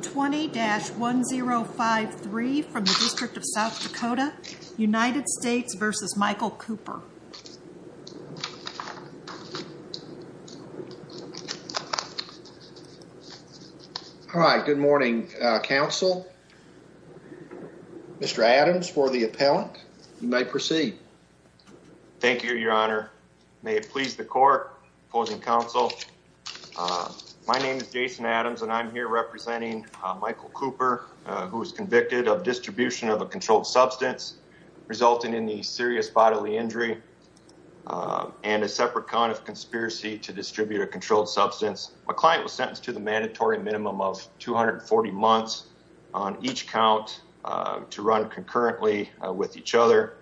20-1053 from the District of South Dakota, United States v. Michael Cooper. All right. Good morning, Council. Mr. Adams for the appellant. You may proceed. Thank you, Your Honor. May it please the Court, Opposing Council. My name is Jason Adams and I'm here representing Michael Cooper, who was convicted of distribution of a controlled substance resulting in a serious bodily injury and a separate count of conspiracy to distribute a controlled substance. My client was sentenced to the mandatory minimum of 240 months on each count to run concurrently with each other.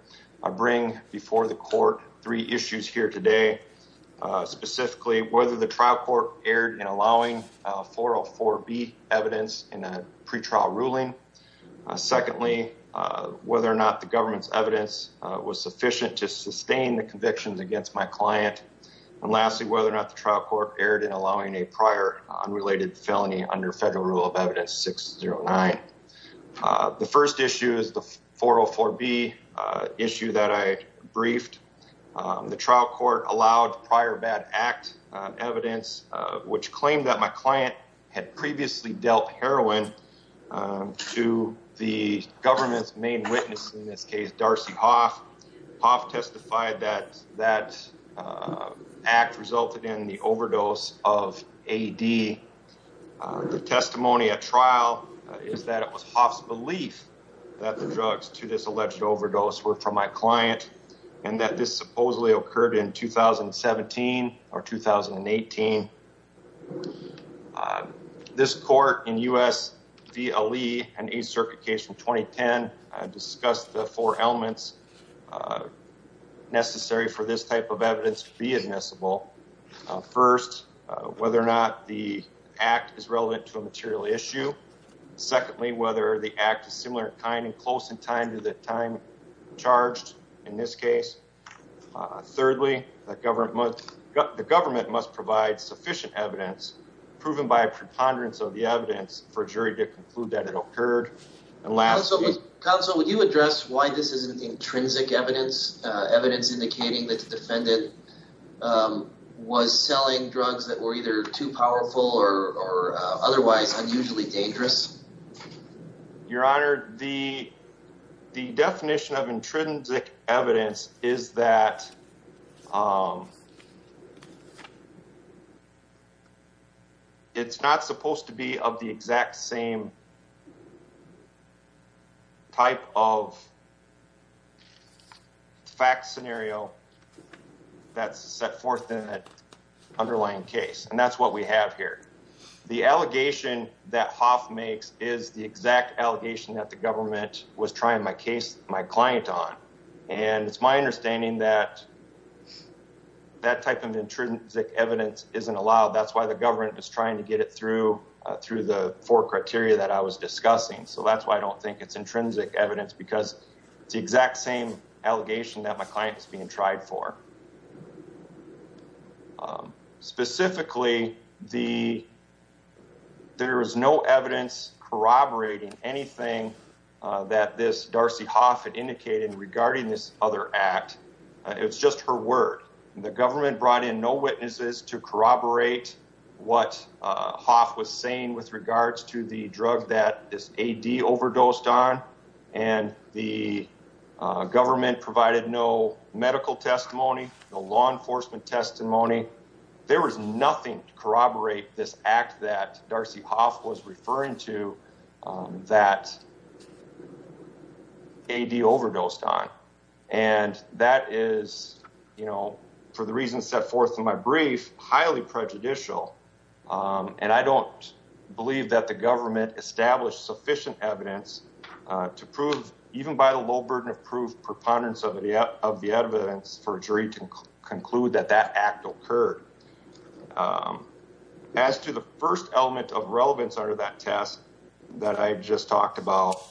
I bring before the Court three issues here today, specifically whether the trial court erred in allowing 404B evidence in a pretrial ruling. Secondly, whether or not the government's evidence was sufficient to sustain the convictions against my client. And lastly, whether or not the trial court erred in allowing a prior unrelated felony under federal rule of evidence 609. The first issue is the 404B issue that I briefed. The trial court allowed prior bad act evidence, which claimed that my client had previously dealt heroin to the government's main witness in this case, Darcy Hoff. Hoff testified that that act resulted in the overdose of AD. The testimony at trial is that it was Hoff's belief that the drugs to this alleged overdose were from my client and that this supposedly occurred in 2017 or 2018. This court in U.S. v. Ali, an Eighth Circuit case from 2010, discussed the four elements necessary for this type of evidence to be admissible. First, whether or not the act is close in time to the time charged in this case. Thirdly, the government must provide sufficient evidence, proven by a preponderance of the evidence, for a jury to conclude that it occurred. Counsel, would you address why this isn't intrinsic evidence, evidence indicating that the defendant was selling drugs that were either too powerful or otherwise unusually dangerous? Your Honor, the definition of intrinsic evidence is that it's not supposed to be of the exact same type of fact scenario that's set forth in that underlying case, and that's what we have here. The allegation that Hoff makes is the exact allegation that the government was trying my client on, and it's my understanding that that type of intrinsic evidence isn't allowed. That's why the government is trying to get it through the four criteria that I was discussing, so that's why I don't think it's intrinsic evidence, because it's the exact same allegation that my client is being tried for. Specifically, there is no evidence corroborating anything that this Darcy Hoff had indicated regarding this other act. It's just her word. The government brought in no witnesses to corroborate what Hoff was saying with regards to the drug that this AD overdosed on, and the government provided no medical testimony, no law enforcement testimony. There was nothing to corroborate this act that Darcy Hoff was referring to that AD overdosed on, and that is, you know, for the reasons set forth in my brief, highly prejudicial, and I don't believe that the government established sufficient evidence to prove, even by the low burden of proof preponderance of the evidence, for a jury to conclude that that act occurred. As to the first element of relevance under that test that I just talked about,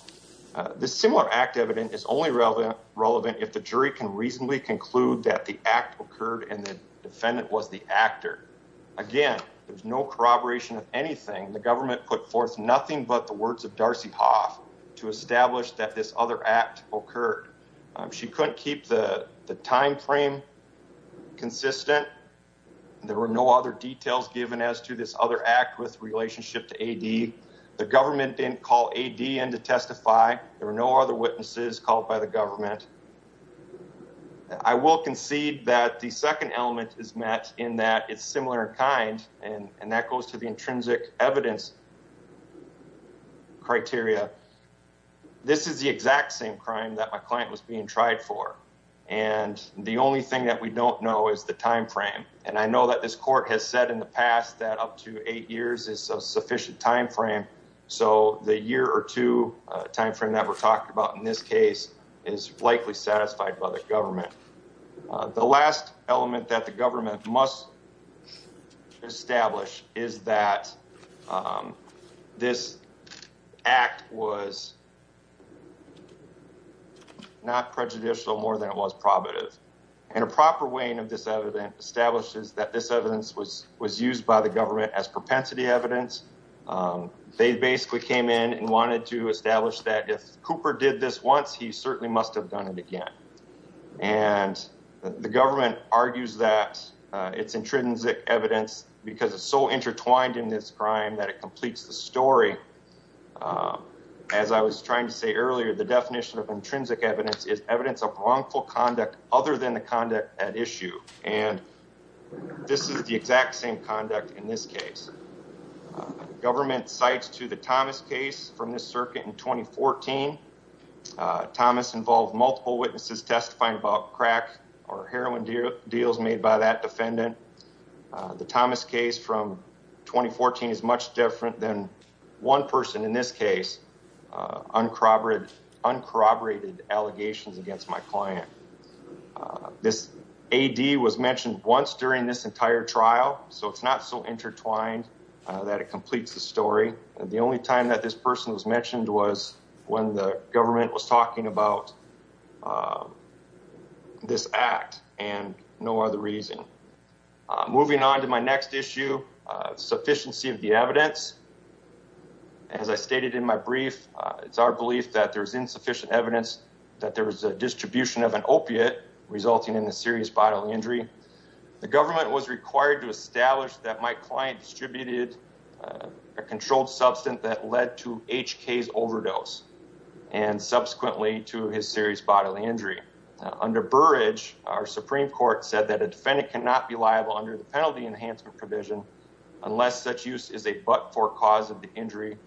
this similar act evidence is only relevant if the jury can reasonably conclude that the act occurred and the defendant was the actor. Again, there's no corroboration of anything. The government put forth nothing but the words of Darcy Hoff to establish that this other act occurred. She couldn't keep the time frame consistent. There were no other details given as to this other act with relationship to AD. The government didn't call AD in to testify. There were no other witnesses called by the government. I will concede that the second element is met in that it's similar in kind, and that goes to the intrinsic evidence criteria. This is the exact same crime that my client was being tried for, and the only thing that we don't know is the time frame, and I know that this court has said in the past that up to eight years is a sufficient time frame, so the year or two time frame that we're satisfied by the government. The last element that the government must establish is that this act was not prejudicial more than it was probative, and a proper weighing of this evidence establishes that this evidence was used by the government as propensity evidence. They basically came in and wanted to establish that if Cooper did this once, he certainly must have done it again, and the government argues that it's intrinsic evidence because it's so intertwined in this crime that it completes the story. As I was trying to say earlier, the definition of intrinsic evidence is evidence of wrongful conduct other than the conduct at issue, and this is the exact same conduct in this case. The government cites to the Thomas case from this multiple witnesses testifying about crack or heroin deals made by that defendant. The Thomas case from 2014 is much different than one person in this case, uncorroborated allegations against my client. This AD was mentioned once during this entire trial, so it's not so intertwined that it completes the story, and the only time that this person was talking about this act and no other reason. Moving on to my next issue, sufficiency of the evidence. As I stated in my brief, it's our belief that there's insufficient evidence that there was a distribution of an opiate resulting in a serious bodily injury. The government was required to establish that my client distributed a controlled substance that led to HK's overdose and subsequently to his serious bodily injury. Under Burridge, our Supreme Court said that a defendant cannot be liable under the penalty enhancement provision unless such use is a but-for cause of the injury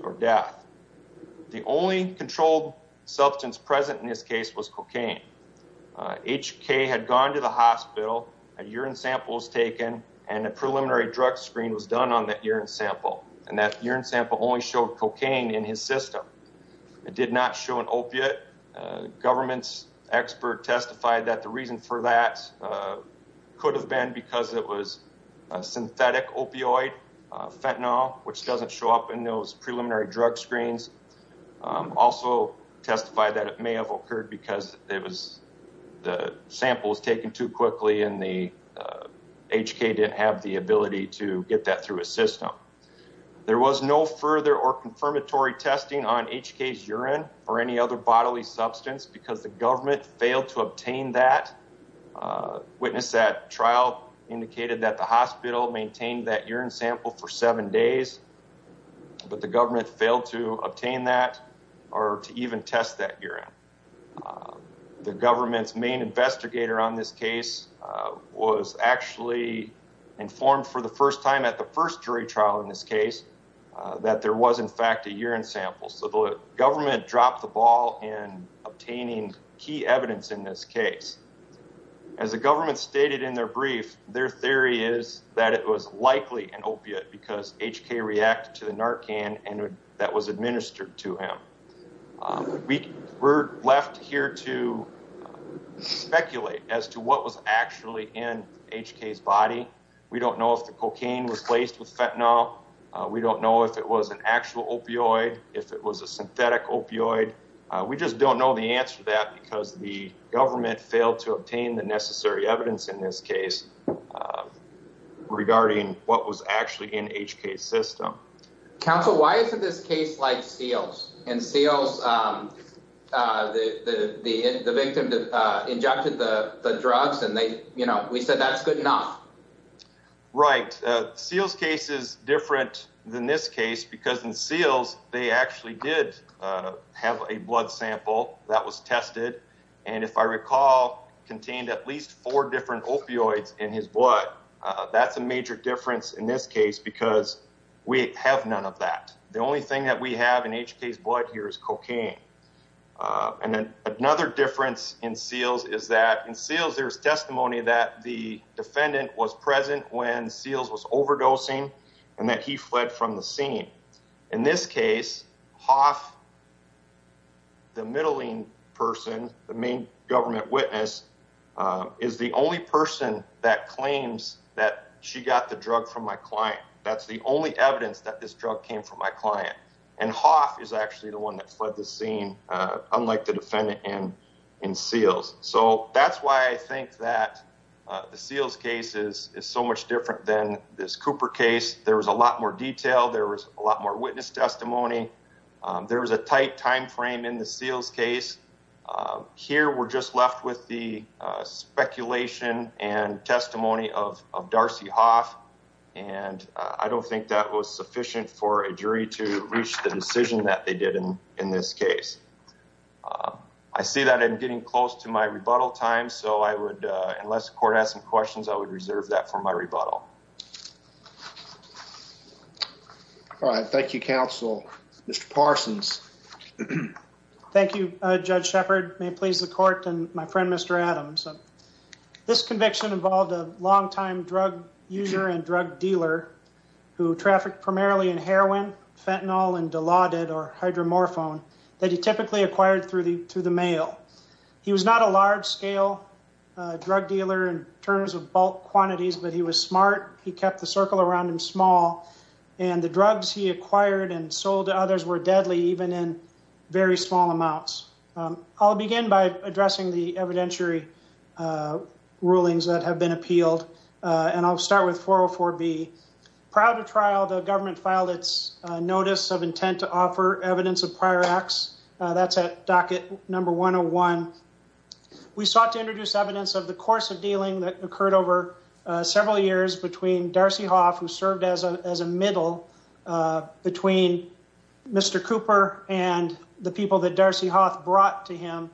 or death. The only controlled substance present in this case was cocaine. HK had gone to the hospital, a urine sample was taken, and a cocaine sample was taken. It did not show an opiate. The government's expert testified that the reason for that could have been because it was a synthetic opioid, fentanyl, which doesn't show up in those preliminary drug screens. Also testified that it may have occurred because the sample was taken too quickly and HK didn't have the ability to get that through a system. There was no further or confirmatory testing on HK's urine or any other bodily substance because the government failed to obtain that. Witness at trial indicated that the hospital maintained that urine sample for seven days, but the government failed to obtain that or to even test that urine. The government's main investigator on this case was actually informed for the first time at the first jury trial in this case that there was in fact a urine sample, so the government dropped the ball in obtaining key evidence in this case. As the government stated in their brief, their theory is that it was likely an opiate because HK reacted to the Narcan that was administered to him. We're left here to speculate as to what actually was in HK's body. We don't know if the cocaine was placed with fentanyl. We don't know if it was an actual opioid, if it was a synthetic opioid. We just don't know the answer to that because the government failed to obtain the necessary evidence in this case Counsel, why isn't this case like Seals? In Seals, the victim injected the drugs and we said that's good enough. Right, Seals case is different than this case because in Seals they actually did have a blood sample that was tested and if I recall contained at least four different opioids in his blood. That's a major difference in this case because we have none of that. The only thing that we have in HK's blood here is cocaine and then another difference in Seals is that in Seals there's testimony that the defendant was present when Seals was overdosing and that he fled from the scene. In this case, Hoff, the middling person, the main government witness, is the only person that claims that she got the drug from my client. That's the only evidence that this drug came from my client and Hoff is actually the one that fled the scene unlike the defendant in Seals. So that's why I think that the Seals case is so much different than this Cooper case. There was a lot more detail, there was a lot more witness testimony, there was a tight time frame in the Seals case. Here we're just left with the speculation and testimony of Darcy Hoff and I don't think that was sufficient for a jury to reach the decision that they did in this case. I see that I'm getting close to my rebuttal time so I would, unless the court has some questions, I would reserve that for my rebuttal. All right. Thank you, counsel. Mr. Parsons. Thank you, Judge Shepard. May it please the court and my friend Mr. Adams. This conviction involved a longtime drug user and drug dealer who trafficked primarily in heroin, fentanyl, and Dilaudid or hydromorphone that he typically acquired through the mail. He was not a large-scale drug dealer in terms of bulk quantities but he was and the drugs he acquired and sold to others were deadly even in very small amounts. I'll begin by addressing the evidentiary rulings that have been appealed and I'll start with 404B. Prior to trial, the government filed its notice of intent to offer evidence of prior acts. That's at docket number 101. We sought to introduce evidence of the course of dealing that occurred over several years between Darcy Hoth, who served as a middle, between Mr. Cooper and the people that Darcy Hoth brought to him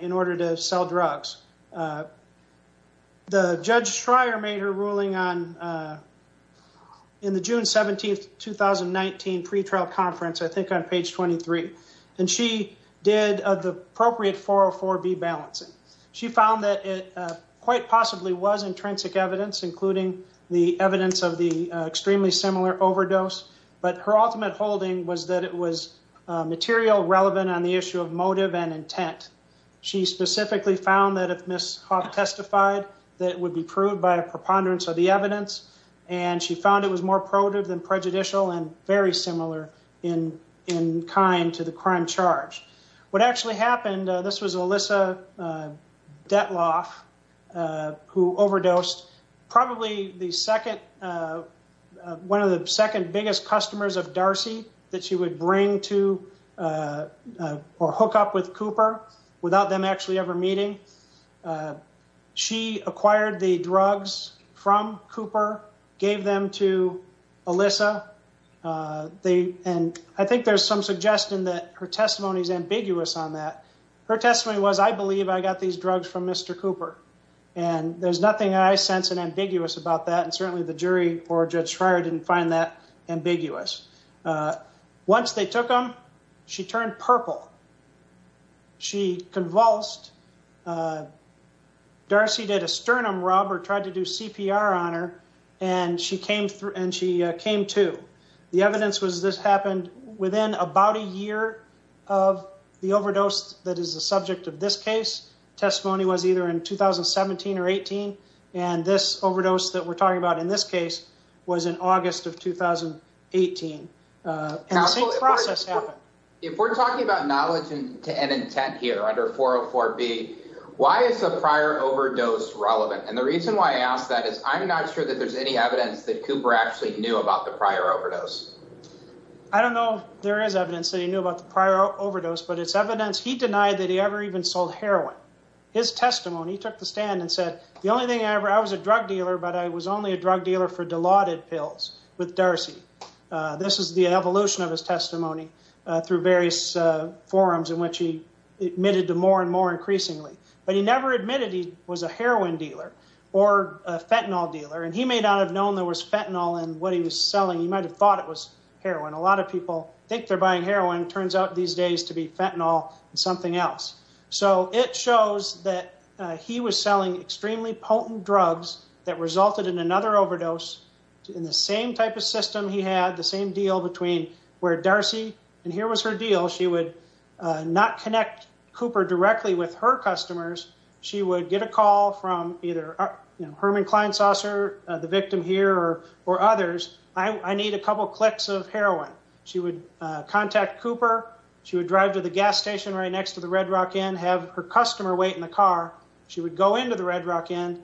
in order to sell drugs. The Judge Schreier made her ruling on in the June 17, 2019 pretrial conference, I think on page 23, and she did the appropriate 404B balancing. She found that it quite possibly was intrinsic evidence, including the evidence of the extremely similar overdose, but her ultimate holding was that it was material relevant on the issue of motive and intent. She specifically found that if Ms. Hoth testified, that it would be proved by a preponderance of the evidence and she found it was more probative than prejudicial and very similar in kind to the crime charge. What actually happened, this was Alyssa Detloff who overdosed, probably one of the second biggest customers of Darcy that she would bring to or hook up with Cooper without them actually ever meeting. She acquired the drugs from Cooper, gave them to Alyssa, and I think there's some suggestion that her testimony is ambiguous on that. Her testimony was, I believe I got these drugs from Mr. Cooper, and there's nothing I sense and ambiguous about that, and certainly the jury or Judge Schreier didn't find that ambiguous. Once they took them, she turned purple. She convulsed. Darcy did a sternum or tried to do CPR on her, and she came to. The evidence was this happened within about a year of the overdose that is the subject of this case. Testimony was either in 2017 or 2018, and this overdose that we're talking about in this case was in August of 2018, and the same process happened. If we're talking about knowledge and intent here under 404B, why is the prior overdose relevant? The reason why I ask that is I'm not sure that there's any evidence that Cooper actually knew about the prior overdose. I don't know if there is evidence that he knew about the prior overdose, but it's evidence he denied that he ever even sold heroin. His testimony, he took the stand and said, the only thing I ever, I was a drug dealer, but I was only a drug dealer for Dilaudid pills with Darcy. This is the evolution of his testimony through various forums in which he admitted to more and more increasingly, but he never admitted he was a heroin dealer or a fentanyl dealer. He may not have known there was fentanyl in what he was selling. He might've thought it was heroin. A lot of people think they're buying heroin, turns out these days to be fentanyl and something else. It shows that he was selling extremely potent drugs that resulted in another overdose in the same type of system he had, the same deal between where Darcy, and here was her deal. She would not connect Cooper directly with her customers. She would get a call from either Herman Kleinsasser, the victim here, or others. I need a couple of clicks of heroin. She would contact Cooper. She would drive to the gas station right next to the Red Rock Inn, have her customer wait in the car. She would go into the Red Rock usually,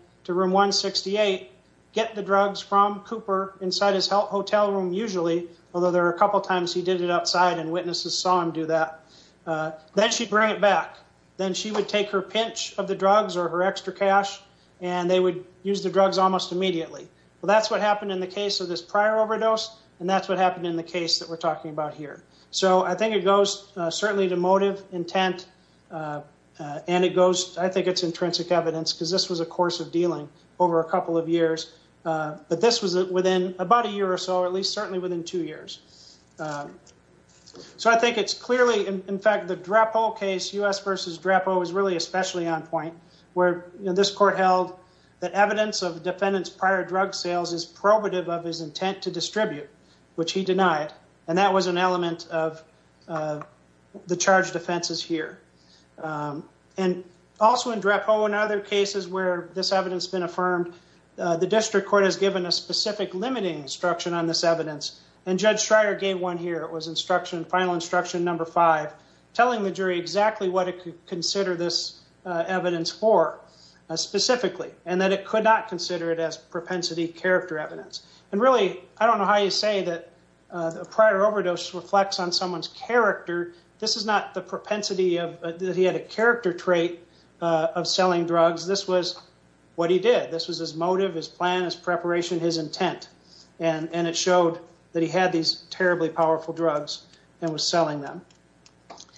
although there were a couple of times he did it outside and witnesses saw him do that. Then she'd bring it back. Then she would take her pinch of the drugs or her extra cash, and they would use the drugs almost immediately. Well, that's what happened in the case of this prior overdose, and that's what happened in the case that we're talking about here. So I think it goes certainly to motive, intent, and it goes, I think it's intrinsic evidence, because this was a course of dealing over a couple of years. But this was within about a decade, certainly within two years. So I think it's clearly, in fact, the DRAPO case, U.S. v. DRAPO, is really especially on point, where this court held that evidence of defendant's prior drug sales is probative of his intent to distribute, which he denied. That was an element of the charged offenses here. Also in DRAPO and other cases where this evidence has been affirmed, the district court has given a specific limiting instruction on this evidence, and Judge Schreier gave one here. It was instruction, final instruction number five, telling the jury exactly what it could consider this evidence for specifically, and that it could not consider it as propensity character evidence. And really, I don't know how you say that a prior overdose reflects on someone's character. This is not the propensity that he had a character trait of selling drugs. This was what he did. This was his motive, his plan, his preparation, his intent. And it showed that he had these terribly powerful drugs and was selling them.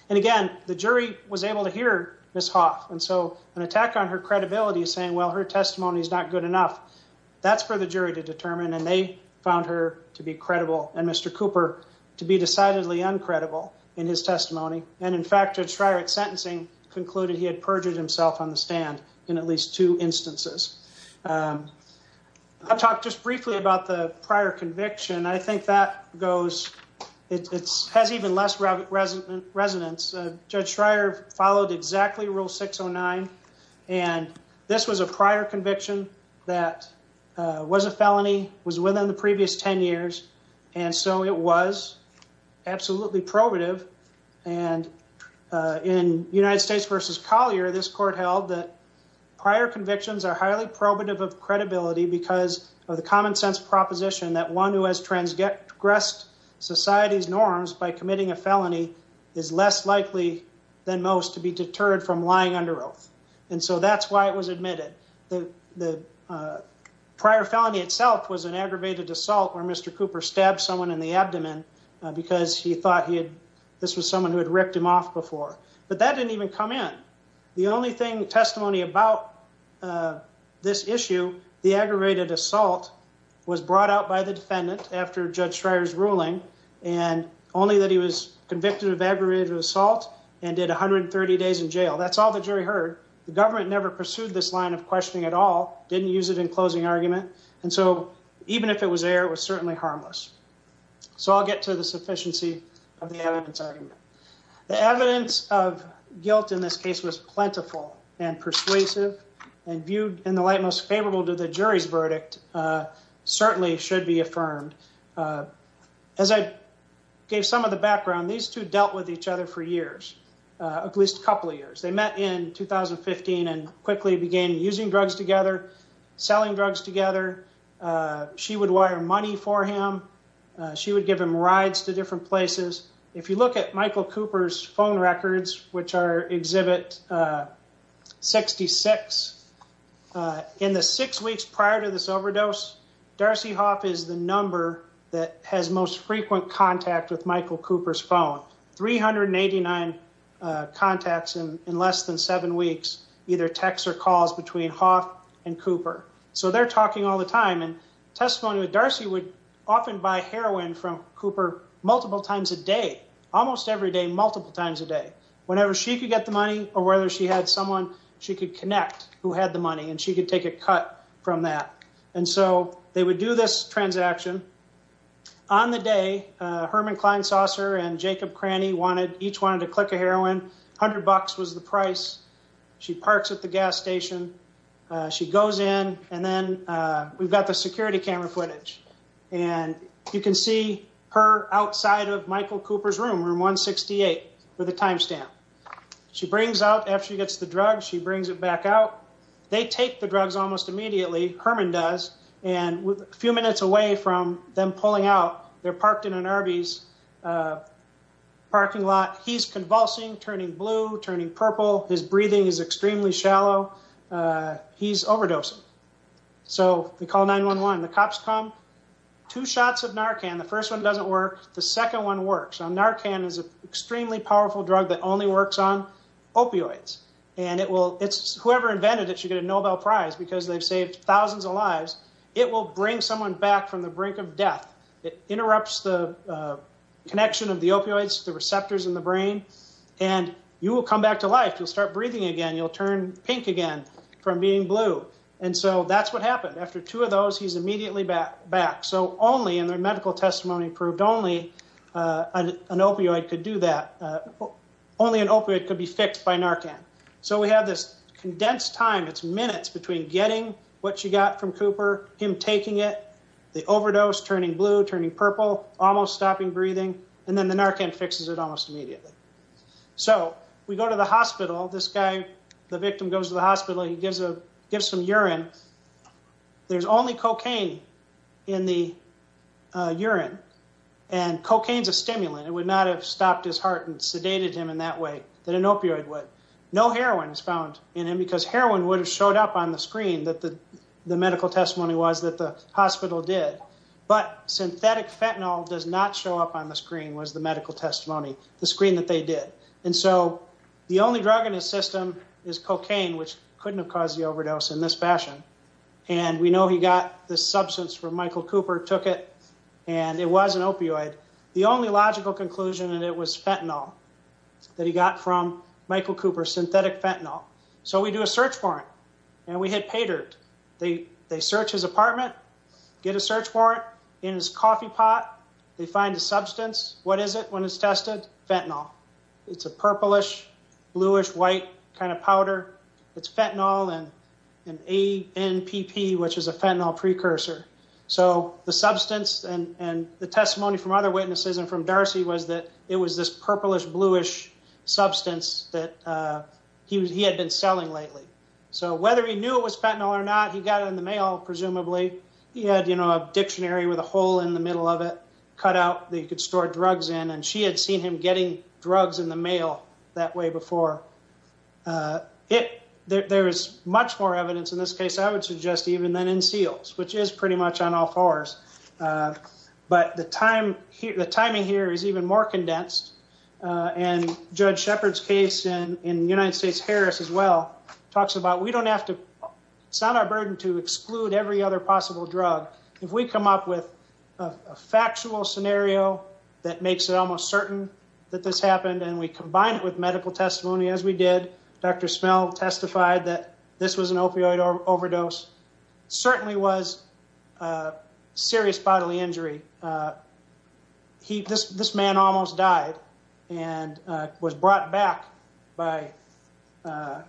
And again, the jury was able to hear Ms. Hoff. And so an attack on her credibility is saying, well, her testimony is not good enough. That's for the jury to determine. And they found her to be credible, and Mr. Cooper to be decidedly uncredible in his testimony. And in fact, Judge Schreier at instances. I'll talk just briefly about the prior conviction. I think that goes, it has even less resonance. Judge Schreier followed exactly rule 609. And this was a prior conviction that was a felony, was within the previous 10 years. And so it was absolutely probative of credibility because of the common sense proposition that one who has transgressed society's norms by committing a felony is less likely than most to be deterred from lying under oath. And so that's why it was admitted that the prior felony itself was an aggravated assault where Mr. Cooper stabbed someone in the abdomen because he thought this was someone who had ripped him off before. But that didn't even come in. The only thing testimony about this issue, the aggravated assault was brought out by the defendant after Judge Schreier's ruling, and only that he was convicted of aggravated assault and did 130 days in jail. That's all the jury heard. The government never pursued this line of questioning at all, didn't use it in closing argument. And so even if it was there, it was certainly harmless. So I'll get to the evidence of guilt in this case was plentiful and persuasive and viewed in the light most favorable to the jury's verdict certainly should be affirmed. As I gave some of the background, these two dealt with each other for years, at least a couple of years. They met in 2015 and quickly began using drugs together, selling drugs together. She would wire money for him. She would give him rides to different places. If you look at Michael Cooper's phone records, which are exhibit 66, in the six weeks prior to this overdose, Darcy Hoff is the number that has most frequent contact with Michael Cooper's phone. 389 contacts in less than seven weeks, either texts or calls between Hoff and Cooper. So they're talking all the time and testimony with heroin from Cooper, multiple times a day, almost every day, multiple times a day, whenever she could get the money or whether she had someone she could connect who had the money and she could take a cut from that. And so they would do this transaction on the day. Herman Klein Saucer and Jacob Cranny wanted each one to click a heroin. A hundred bucks was the price. She parks at the gas station. She goes in and then we've got the security camera footage and you can see her outside of Michael Cooper's room, room 168, with a timestamp. She brings out, after she gets the drug, she brings it back out. They take the drugs almost immediately, Herman does, and a few minutes away from them pulling out, they're parked in an Arby's parking lot. He's convulsing, turning blue, turning purple. His breathing is extremely shallow. He's overdosing. So they call 911. The cops come. Two shots of Narcan. The first one doesn't work. The second one works. Narcan is an extremely powerful drug that only works on opioids. Whoever invented it should get a Nobel Prize because they've saved thousands of lives. It will bring someone back from the brink of death. It interrupts the connection of the opioids, the receptors in the brain, and you will come back to life. You'll start breathing again. You'll turn pink again from being blue. And so that's what happened. After two of those, he's immediately back. So only, and their medical testimony proved only, an opioid could do that. Only an opioid could be fixed by Narcan. So we have this condensed time. It's minutes between getting what you got from Cooper, him taking it, the overdose turning blue, turning purple, almost stopping breathing, and then the Narcan fixes it almost immediately. So we go to the hospital. This guy, the victim goes to the hospital. He gives some urine. There's only cocaine in the urine. And cocaine's a stimulant. It would not have stopped his heart and sedated him in that way that an opioid would. No heroin is found in him because heroin would have showed up on the screen that the medical testimony was that the hospital did. But synthetic fentanyl does not show up on the screen was the medical testimony, the screen that they did. And so the only drug in his system is cocaine, which couldn't have caused the overdose in this fashion. And we know he got this substance from Michael Cooper, took it, and it was an opioid. The only logical conclusion that it was fentanyl that he got from Michael Cooper, synthetic fentanyl. So we do a search warrant, and we hit paydirt. They search his apartment, get a search copy pot. They find a substance. What is it when it's tested? Fentanyl. It's a purplish-bluish-white kind of powder. It's fentanyl and an ANPP, which is a fentanyl precursor. So the substance and the testimony from other witnesses and from Darcy was that it was this purplish-bluish substance that he had been selling lately. So whether he knew it was fentanyl or not, he got it in the mail, presumably. He had a dictionary with a hole in the middle of it, cut out that you could store drugs in. And she had seen him getting drugs in the mail that way before. There is much more evidence in this case, I would suggest, even than in SEALs, which is pretty much on all fours. But the timing here is even more condensed. And Judge Shepard's case in the United States, Harris, as well, talks about, it's not our burden to exclude every other possible drug. If we come up with a factual scenario that makes it almost certain that this happened and we combine it with medical testimony, as we did, Dr. Smell testified that this was an opioid overdose. It certainly was serious bodily injury. This man almost died and was brought back by the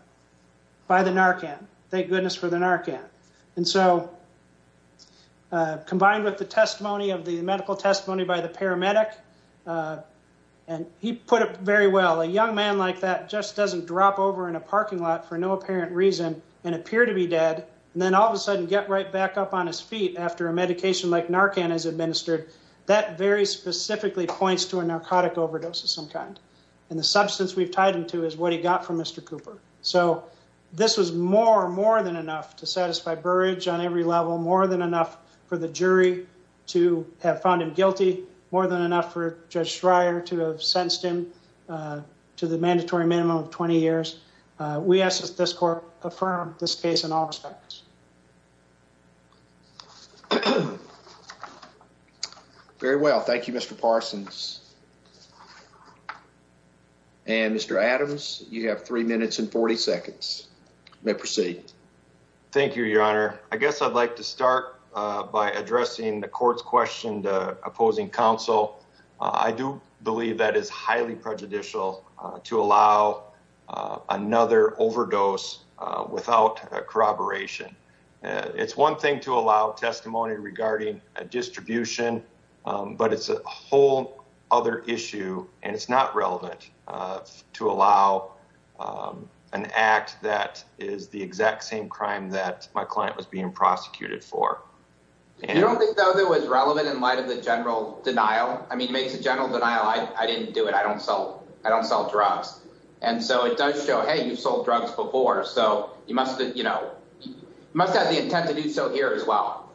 Narcan, thank goodness for the Narcan. And so combined with the testimony of the medical testimony by the paramedic, and he put it very well, a young man like that just doesn't drop over in a parking lot for no apparent reason and appear to be dead and then all of a sudden get right back up on his feet after a medication like Narcan is administered, that very specifically points to a narcotic overdose of some kind. And the substance we've tied him to is what he got from Mr. Cooper. So this was more, more than enough to satisfy Burrage on every level, more than enough for the jury to have found him guilty, more than enough for Judge Schreier to have sentenced him to the mandatory minimum of 20 years. We ask that this court affirm this case in all respects. Very well. Thank you, Mr. Parsons. And Mr. Adams, you have three minutes and 40 seconds. You may proceed. Thank you, Your Honor. I guess I'd like to start by addressing the court's question to opposing counsel. I do believe that is highly prejudicial to allow another overdose without corroboration. It's one thing to allow testimony regarding a distribution, but it's a whole other issue and it's not relevant to allow an act that is the exact same crime that my client was being prosecuted for. You don't think that was relevant in light of the general denial? I mean, it makes a general denial. I didn't do it. I don't sell. I don't sell drugs. And so it does show, hey, you've sold drugs before, so you must have the intent to do so here as well.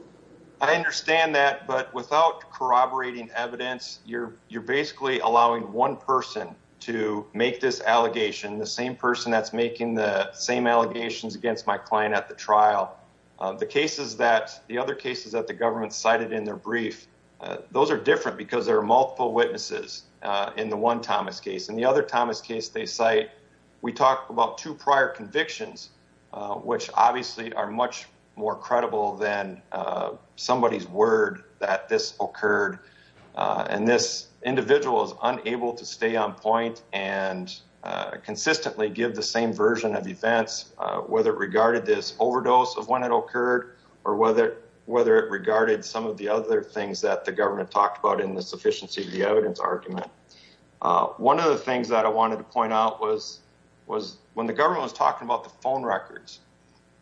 I understand that, but without corroborating evidence, you're basically allowing one person to make this allegation, the same person that's making the same allegations against my client at the trial. The other cases that the government cited in their brief, those are different because there are multiple witnesses in the one Thomas case. In the other Thomas case they cite, we talked about two prior convictions, which obviously are much more credible than somebody's word that this occurred. And this individual is unable to stay on point and consistently give the same version of events, whether it regarded this overdose of when it occurred or whether it regarded some of the other things that the government talked about in the When the government was talking about the phone records,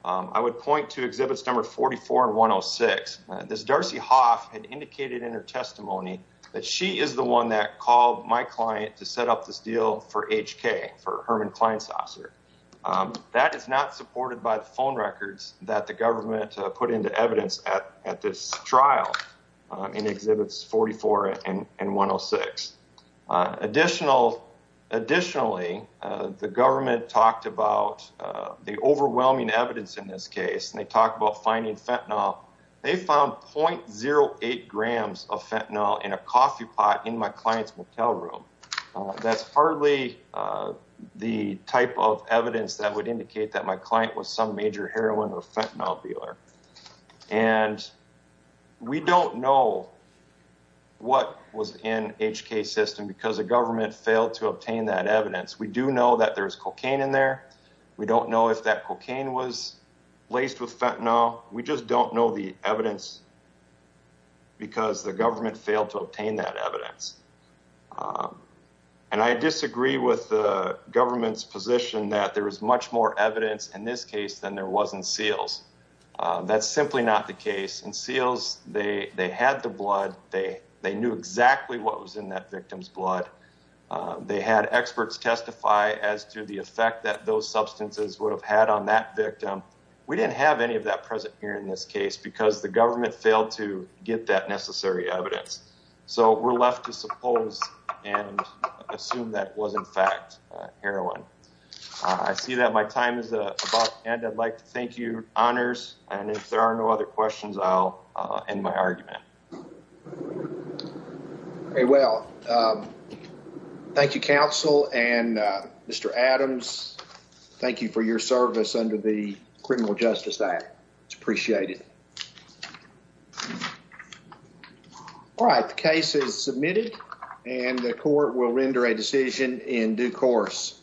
I would point to exhibits number 44 and 106. This Darcy Hoff had indicated in her testimony that she is the one that called my client to set up this deal for HK, for Herman Klein's officer. That is not supported by the phone records that the government put into evidence at this trial in exhibits 44 and 106. Additionally, the government talked about the overwhelming evidence in this case and they talked about finding fentanyl. They found 0.08 grams of fentanyl in a coffee pot in my client's motel room. That's hardly the type of evidence that would indicate that my client was some because the government failed to obtain that evidence. We do know that there's cocaine in there. We don't know if that cocaine was laced with fentanyl. We just don't know the evidence because the government failed to obtain that evidence. And I disagree with the government's position that there is much more evidence in this case than there was in seals. That's simply not the case. In seals, they had the blood. They knew exactly what was in that victim's blood. They had experts testify as to the effect that those substances would have had on that victim. We didn't have any of that present here in this case because the government failed to get that necessary evidence. So we're left to suppose and assume that was in fact heroin. I see that my time is about to end. I'd like to thank you, and if there are no other questions, I'll end my argument. Very well. Thank you, counsel and Mr. Adams. Thank you for your service under the Criminal Justice Act. It's appreciated. All right. The case is submitted and the court will render a decision in due course.